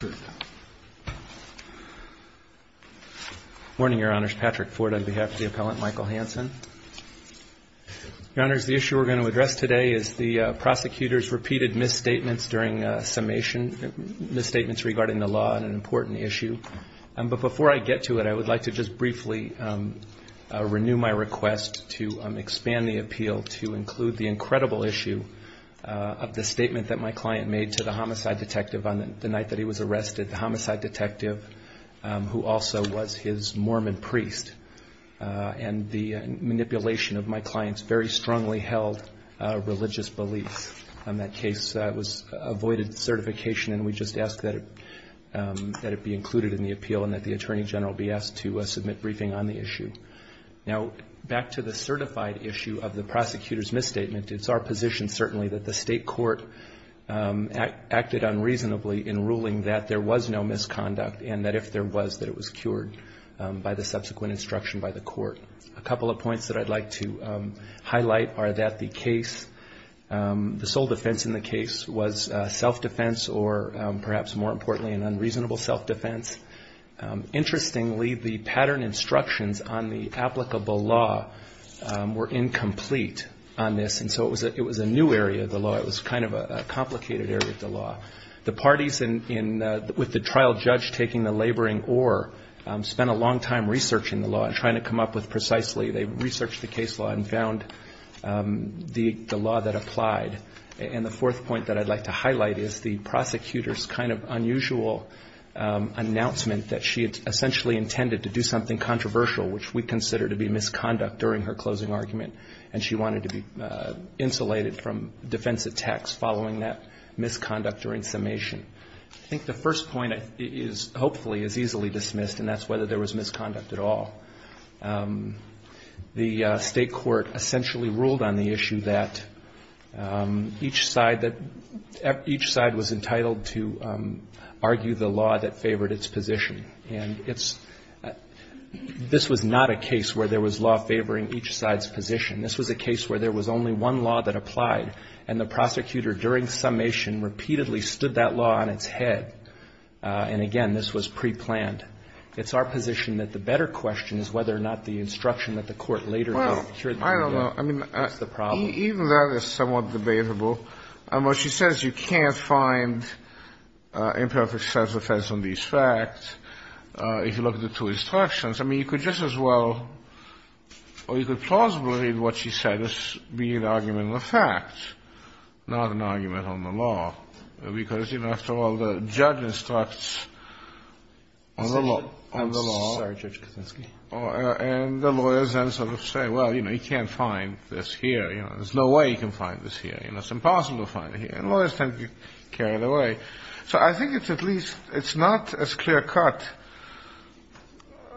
Good morning, Your Honors. Patrick Ford on behalf of the appellant, Michael Hansen. Your Honors, the issue we're going to address today is the prosecutor's repeated misstatements during summation, misstatements regarding the law, and an important issue. But before I get to it, I would like to just briefly renew my request to expand the appeal to include the incredible issue of the statement that my client made to the homicide detective on the night that he was arrested, the homicide detective, who also was his Mormon priest, and the manipulation of my client's very strongly held religious beliefs. That case was avoided certification, and we just ask that it be included in the appeal and that the Attorney General be asked to submit briefing on the issue. Now, back to the certified issue of the prosecutor's misstatement, it's our position certainly that the state court acted unreasonably in ruling that there was no misconduct, and that if there was, that it was cured by the subsequent instruction by the court. A couple of points that I'd like to highlight are that the case, the sole defense in the case was self-defense, or perhaps more importantly, an unreasonable self-defense. Interestingly, the pattern instructions on the law, it was kind of a complicated area of the law. The parties with the trial judge taking the laboring or spent a long time researching the law and trying to come up with precisely, they researched the case law and found the law that applied. And the fourth point that I'd like to highlight is the prosecutor's kind of unusual announcement that she had essentially intended to do something controversial, which we consider to be misconduct during her closing argument, and she wanted to be insulated from defense attacks following that misconduct during summation. I think the first point is, hopefully, is easily dismissed, and that's whether there was misconduct at all. The state court essentially ruled on the issue that each side that, each side was entitled to argue the law that favored its position. And it's, this was not a case where there was law favoring each side's position. This was a case where there was only one law that applied, and the prosecutor during summation repeatedly stood that law on its head. And again, this was pre-planned. It's our position that the better question is whether or not the instruction that the court later gave. Kennedy. Well, I don't know. I mean, even that is somewhat debatable. And what she says, you can't find imperfect self-defense on these facts, if you look at the two instructions. I mean, you could just as well, or you could plausibly read what she said as being an argument on the facts, not an argument on the law. Because, you know, after all, the judge instructs on the law, and the lawyers then sort of say, well, you know, you can't find this here. You know, there's no way you can find this here. You know, it's impossible to find it here. And lawyers tend to carry it away. So I think it's at least, it's not as clear-cut.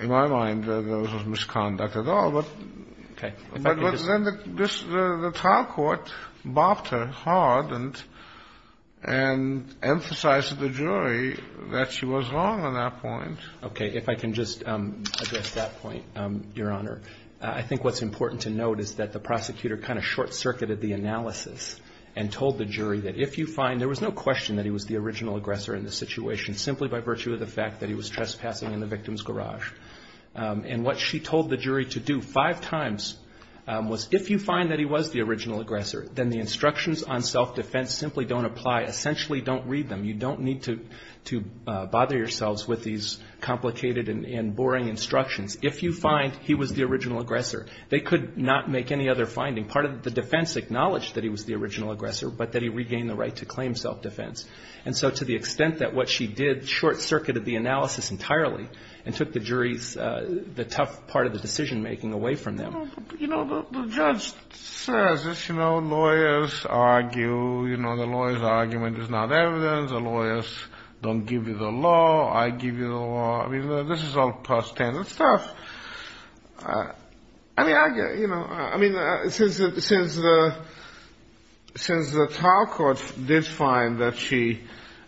In my mind, there was no misconduct at all. But then the trial court bopped her hard and emphasized to the jury that she was wrong on that point. Okay. If I can just address that point, Your Honor, I think what's important to note is that the prosecutor kind of short-circuited the analysis and told the jury that if you find — there was no question that he was the original aggressor in this situation, simply by virtue of the fact that he was trespassing in the victim's garage. And what she told the jury to do five times was, if you find that he was the original aggressor, then the instructions on self-defense simply don't apply. Essentially, don't read them. You don't need to bother yourselves with these complicated and boring instructions. If you find he was the original aggressor, they could not make any other finding. Part of the defense acknowledged that he was the original aggressor, but that he regained the right to claim self-defense. And so to the extent that what she did short-circuited the analysis entirely and took the jury's — the tough part of the decision-making away from them. You know, the judge says this, you know, lawyers argue, you know, the lawyer's argument is not evidence. The lawyers don't give you the law. I give you the law. I mean, this is all past tense and stuff. I mean, you know, since the trial court did find that she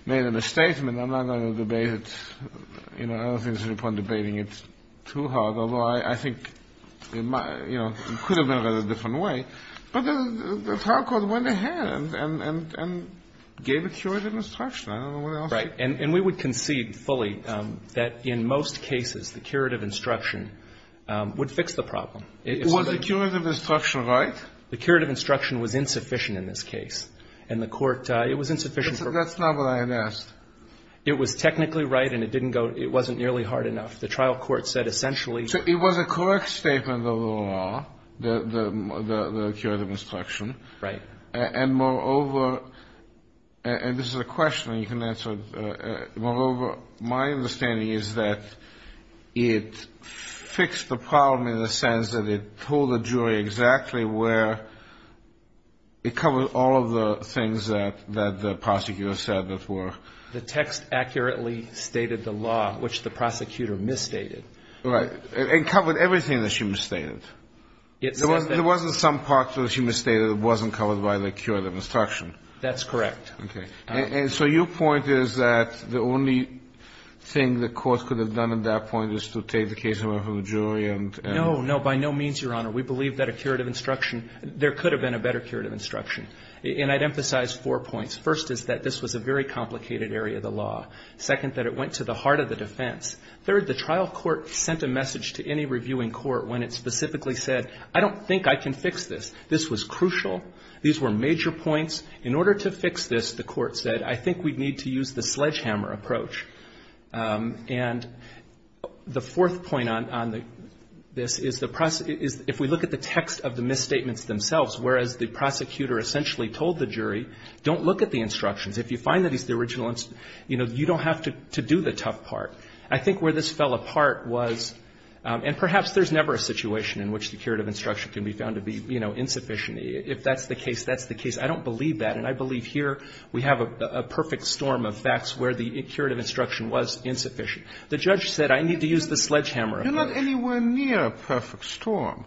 made a misstatement, I'm not going to debate it. You know, I don't think there's any point debating it too hard, although I think, you know, it could have been done a different way. But the trial court went ahead and gave a curative instruction. I don't know what else to say. And we would concede fully that in most cases the curative instruction would fix the problem. Was the curative instruction right? The curative instruction was insufficient in this case. And the court — it was insufficient. That's not what I had asked. It was technically right and it didn't go — it wasn't nearly hard enough. The trial court said essentially — So it was a correct statement of the law, the curative instruction. Right. And moreover — and this is a question you can answer. Moreover, my understanding is that it fixed the problem in the sense that it told the jury exactly where — it covered all of the things that the prosecutor said that were — The text accurately stated the law, which the prosecutor misstated. Right. It covered everything that she misstated. It said that — But there wasn't some part that she misstated that wasn't covered by the curative instruction. That's correct. Okay. And so your point is that the only thing the court could have done at that point is to take the case away from the jury and — No, no. By no means, Your Honor. We believe that a curative instruction — there could have been a better curative instruction. And I'd emphasize four points. First is that this was a very complicated area of the law. Second, that it went to the heart of the defense. Third, the trial court sent a message to any reviewing court when it specifically said, I don't think I can fix this. This was crucial. These were major points. In order to fix this, the court said, I think we need to use the sledgehammer approach. And the fourth point on this is the — if we look at the text of the misstatements themselves, whereas the prosecutor essentially told the jury, don't look at the instructions. If you find that it's the original — you know, you don't have to do the tough part. I think where this fell apart was — and perhaps there's never a situation in which the curative instruction can be found to be, you know, insufficient. If that's the case, that's the case. I don't believe that. And I believe here we have a perfect storm of facts where the curative instruction was insufficient. The judge said, I need to use the sledgehammer approach. You're not anywhere near a perfect storm.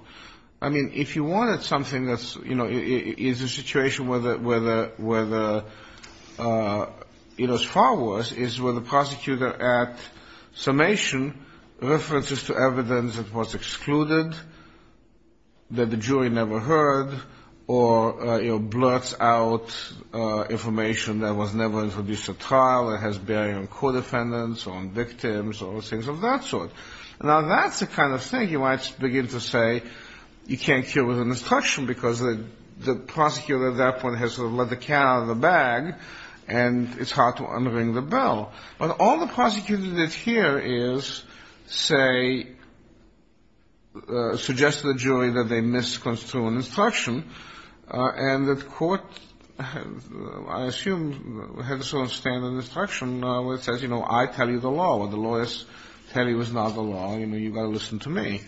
I mean, if you wanted something that's — you know, is a situation where the — you know, it's far worse, is where the prosecutor at summation references to evidence that was excluded, that the jury never heard, or, you know, blurts out information that was never introduced at trial, or has bearing on court defendants or on victims or things of that sort. Now, that's the kind of thing you might begin to say you can't cure with an instruction, because the prosecutor at that point has sort of let the cat out of the bag, and it's hard to unring the bell. But all the prosecutor did here is say — suggested to the jury that they misconstrued an instruction, and that court, I assume, had to sort of stand on the instruction where it says, you know, I tell you the law. What the lawyers tell you is not the law. You know, you've got to listen to me.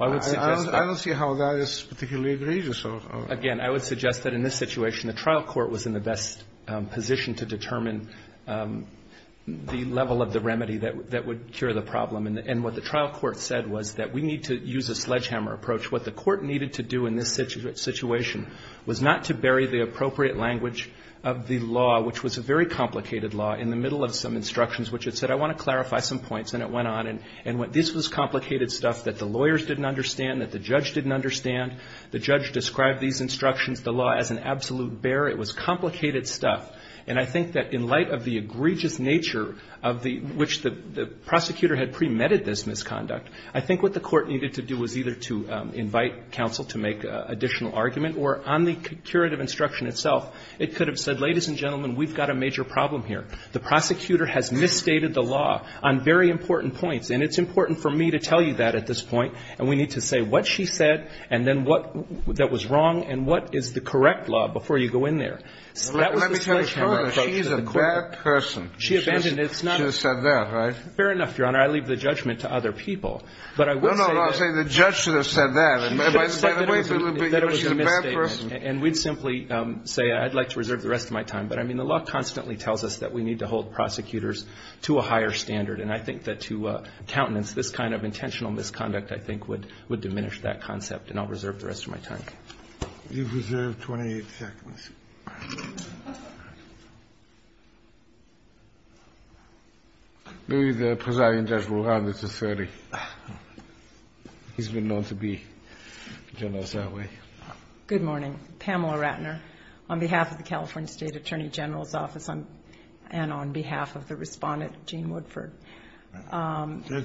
I don't see how that is particularly egregious. Again, I would suggest that in this situation, the trial court was in the best position to determine the level of the remedy that would cure the problem. And what the trial court said was that we need to use a sledgehammer approach. What the court needed to do in this situation was not to bury the appropriate language of the law, which was a very complicated law, in the middle of some instructions which it said, I want to clarify some points, and it went on and went — this was complicated stuff that the lawyers didn't understand, that the judge didn't understand. The judge described these instructions, the law, as an absolute bear. It was complicated stuff. And I think that in light of the egregious nature of the — which the prosecutor had premedited this misconduct, I think what the court needed to do was either to invite counsel to make additional argument, or on the curative instruction itself, it could have said, ladies and gentlemen, we've got a major problem here. The prosecutor has misstated the law on very important points, and it's important for me to tell you that at this point, and we need to say what she said and then what that was wrong and what is the correct law before you go in there. That was the sledgehammer approach to the court. Kennedy, she's a bad person. She abandoned it. She should have said that, right? Fair enough, Your Honor. I leave the judgment to other people. But I would say that — No, no. I was saying the judge should have said that. She should have said that it was a misstatement. And we'd simply say, I'd like to reserve the rest of my time. But, I mean, the law constantly tells us that we need to hold prosecutors to a higher standard. And I think that to countenance, this kind of intentional misconduct, I think, would diminish that concept. And I'll reserve the rest of my time. You've reserved 28 seconds. Louis, the presiding judge will round it to 30. He's been known to be generous that way. Good morning. Good morning. Pamela Ratner on behalf of the California State Attorney General's Office and on behalf of the respondent, Gene Woodford. Judge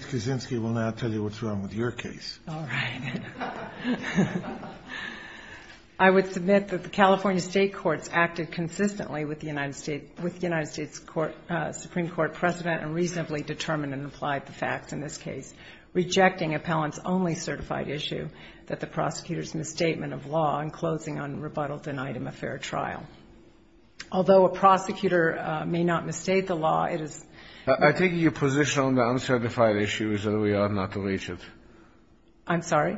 Kaczynski will now tell you what's wrong with your case. All right. I would submit that the California State Courts acted consistently with the United States Supreme Court precedent and reasonably determined and applied the facts in this case, rejecting appellant's only certified issue, that the prosecutor's misstatement of law and closing on rebuttal denied him a fair trial. Although a prosecutor may not misstate the law, it is... I take your position on the uncertified issue is that we ought not to reach it. I'm sorry?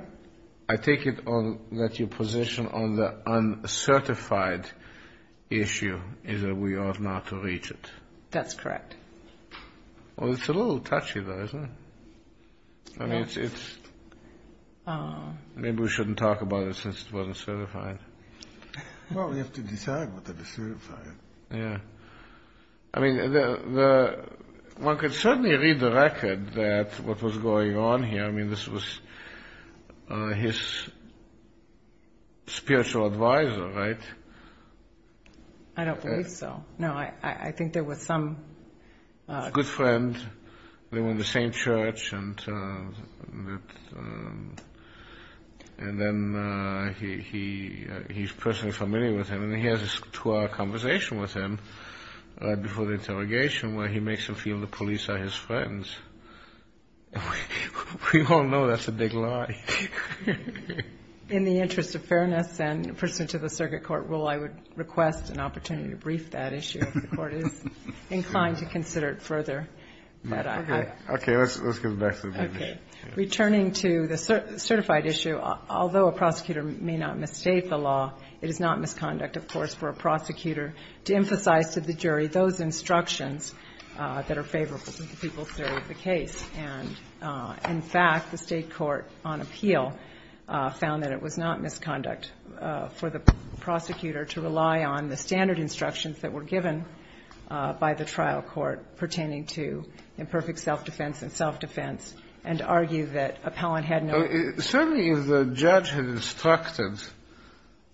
I take it that your position on the uncertified issue is that we ought not to reach it. That's correct. Well, it's a little touchy, though, isn't it? Yes. Maybe we shouldn't talk about it since it wasn't certified. Well, we have to decide whether to certify it. Yeah. I mean, one could certainly read the record that what was going on here. I mean, this was his spiritual advisor, right? I don't believe so. No, I think there was some... He had a good friend. They were in the same church, and then he's personally familiar with him, and he has this two-hour conversation with him before the interrogation where he makes him feel the police are his friends. We all know that's a big lie. In the interest of fairness and pursuant to the circuit court rule, I would request an opportunity to brief that issue if the Court is inclined to consider it further. Okay. Let's get back to the issue. Returning to the certified issue, although a prosecutor may not misstate the law, it is not misconduct, of course, for a prosecutor to emphasize to the jury those instructions And, in fact, the State court on appeal found that it was not misconduct for the prosecutor to rely on the standard instructions that were given by the trial court pertaining to imperfect self-defense and self-defense and argue that appellant had not... Certainly, if the judge had instructed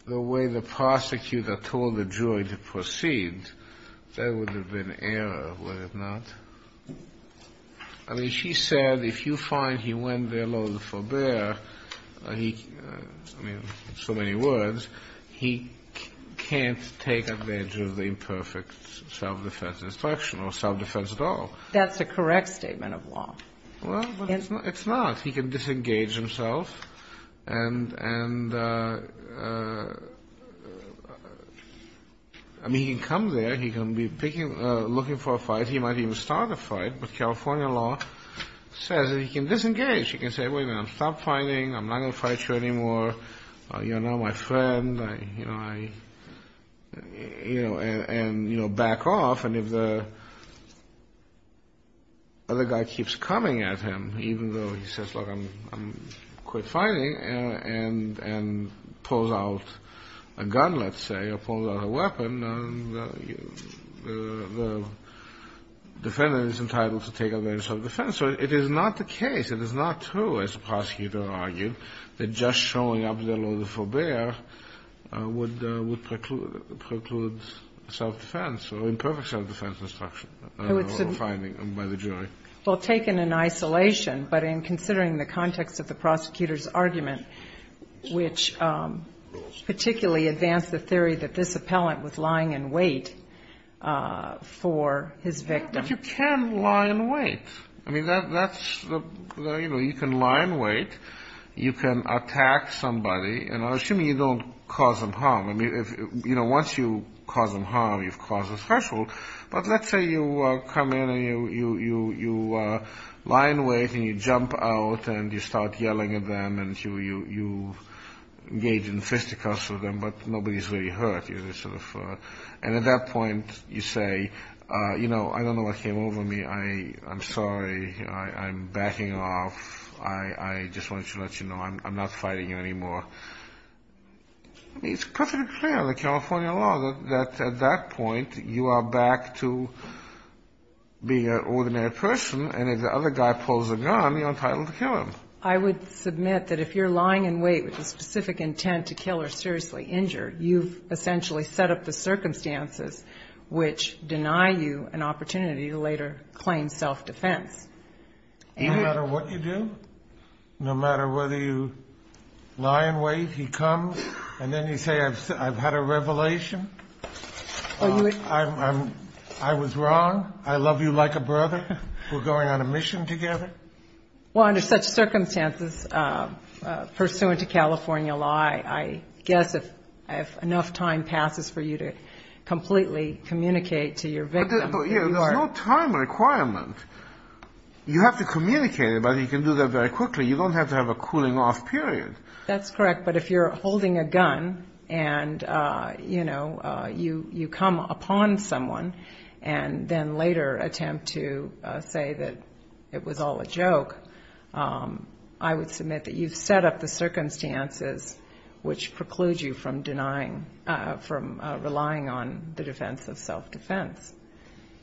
the way the prosecutor told the jury to proceed, there would have been error, would it not? I mean, she said if you find he went there loath to forbear, I mean, in so many words, he can't take advantage of the imperfect self-defense instruction or self-defense at all. That's a correct statement of law. Well, it's not. He can disengage himself and, I mean, he can come there. He can be picking, looking for a fight. He might even start a fight, but California law says that he can disengage. He can say, wait a minute, I'm stopped fighting. I'm not going to fight you anymore. You're not my friend. I, you know, I, you know, and, you know, back off. And if the other guy keeps coming at him, even though he says, look, I'm quit fighting, and pulls out a gun, let's say, or pulls out a weapon, the defendant is entitled to take advantage of self-defense. So it is not the case, it is not true, as the prosecutor argued, that just showing up there loath to forbear would preclude self-defense or imperfect self-defense instruction or finding by the jury. Well, taken in isolation, but in considering the context of the prosecutor's argument, which particularly advanced the theory that this appellant was lying in wait for his victim. Yes, but you can lie in wait. I mean, that's the, you know, you can lie in wait. You can attack somebody. And I'm assuming you don't cause them harm. I mean, you know, once you cause them harm, you've caused a threshold. But let's say you come in and you lie in wait and you jump out and you start yelling at them and you engage in fisticuffs with them, but nobody's really hurt. And at that point you say, you know, I don't know what came over me. I'm sorry. I'm backing off. I just wanted to let you know I'm not fighting you anymore. I mean, it's perfectly clear in the California law that at that point you are back to being an ordinary person and if the other guy pulls a gun, you're entitled to kill him. I would submit that if you're lying in wait with the specific intent to kill or seriously injure, you've essentially set up the circumstances which deny you an opportunity to later claim self-defense. No matter what you do? No matter whether you lie in wait, he comes, and then you say I've had a revelation, I was wrong, I love you like a brother, we're going on a mission together? Well, under such circumstances pursuant to California law, I guess if enough time passes for you to completely communicate to your victim. There's no time requirement. You have to communicate it, but you can do that very quickly. You don't have to have a cooling off period. That's correct, but if you're holding a gun and, you know, you come upon someone and then later attempt to say that it was all a joke, I would submit that you've set up the circumstances which preclude you from denying, from relying on the defense of self-defense.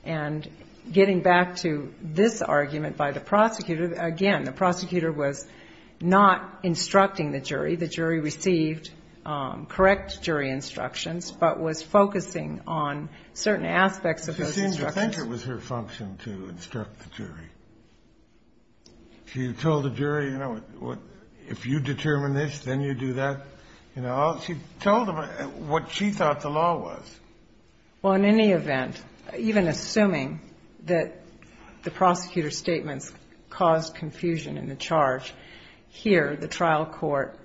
And getting back to this argument by the prosecutor, again, the prosecutor was not instructing the jury. The jury received correct jury instructions, but was focusing on certain aspects of those instructions. I think it was her function to instruct the jury. She told the jury, you know, if you determine this, then you do that. She told them what she thought the law was. Well, in any event, even assuming that the prosecutor's statements caused confusion in the charge, here the trial court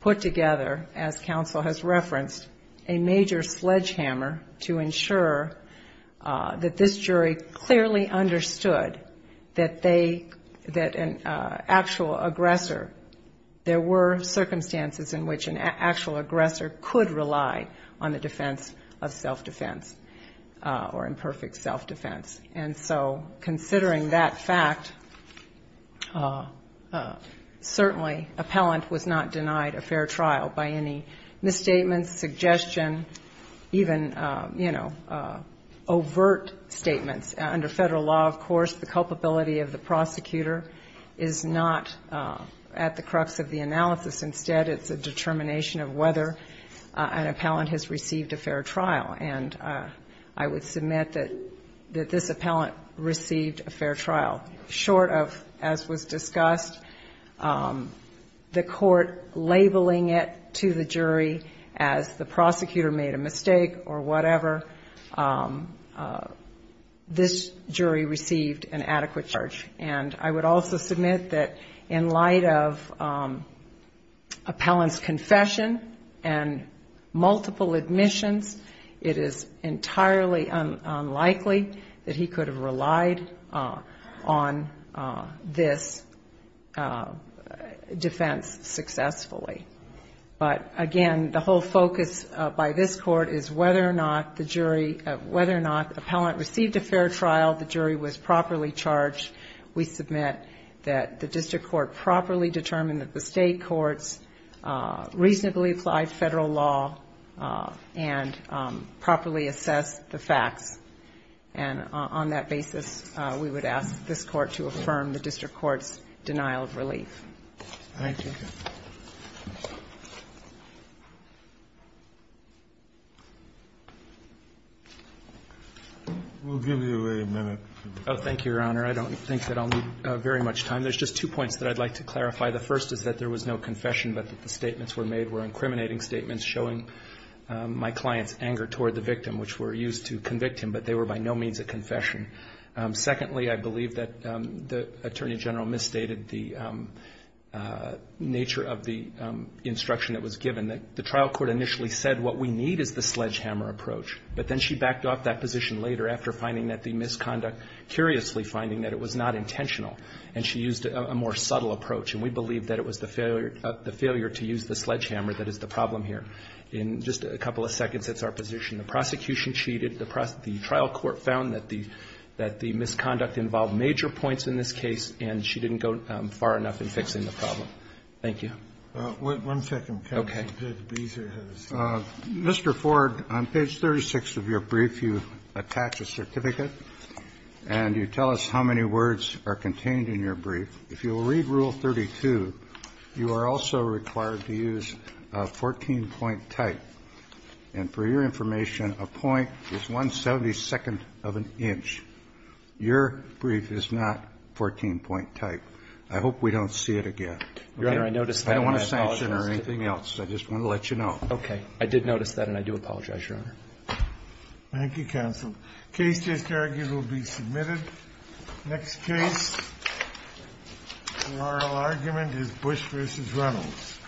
put together, as counsel has referenced, a major sledgehammer to ensure that this jury clearly understood that they, that an actual aggressor, there were circumstances in which an actual aggressor could rely on the defense of self-defense or imperfect self-defense. And so considering that fact, certainly appellant was not denied a fair trial by any misstatements, suggestion, even, you know, overt statements. Under federal law, of course, the culpability of the prosecutor is not at the crux of the analysis. Instead, it's a determination of whether an appellant has received a fair trial. And I would submit that this appellant received a fair trial. Short of, as was discussed, the court labeling it to the jury as the prosecutor made a mistake or whatever, this jury received an adequate charge. And I would also submit that in light of appellant's confession and multiple admissions, it is entirely unlikely that he could have relied on this defense successfully. But, again, the whole focus by this court is whether or not the jury, whether or not appellant received a fair trial, the jury was properly charged. We submit that the district court properly determined that the state courts reasonably applied federal law and properly assessed the facts. And on that basis, we would ask this court to affirm the district court's denial of relief. Thank you. We'll give you a minute. Oh, thank you, Your Honor. I don't think that I'll need very much time. There's just two points that I'd like to clarify. The first is that there was no confession but that the statements were made were incriminating statements showing my client's anger toward the victim, which were used to convict him, but they were by no means a confession. Secondly, I believe that the Attorney General misstated the nature of the instruction that was given. The trial court initially said what we need is the sledgehammer approach, but then she backed off that position later after finding that the misconduct, curiously finding that it was not intentional, and she used a more subtle approach. And we believe that it was the failure to use the sledgehammer that is the problem here. In just a couple of seconds, that's our position. The prosecution cheated. The trial court found that the misconduct involved major points in this case, and she didn't go far enough in fixing the problem. Thank you. One second. Okay. Mr. Ford, on page 36 of your brief, you attach a certificate, and you tell us how many words are contained in your brief. If you'll read Rule 32, you are also required to use a 14-point type. And for your information, a point is 172nd of an inch. Your brief is not 14-point type. I hope we don't see it again. Your Honor, I noticed that, and I apologize. I don't want a sanction or anything else. I just want to let you know. Okay. I did notice that, and I do apologize, Your Honor. Thank you, counsel. The case just argued will be submitted. The next case for oral argument is Bush v. Reynolds.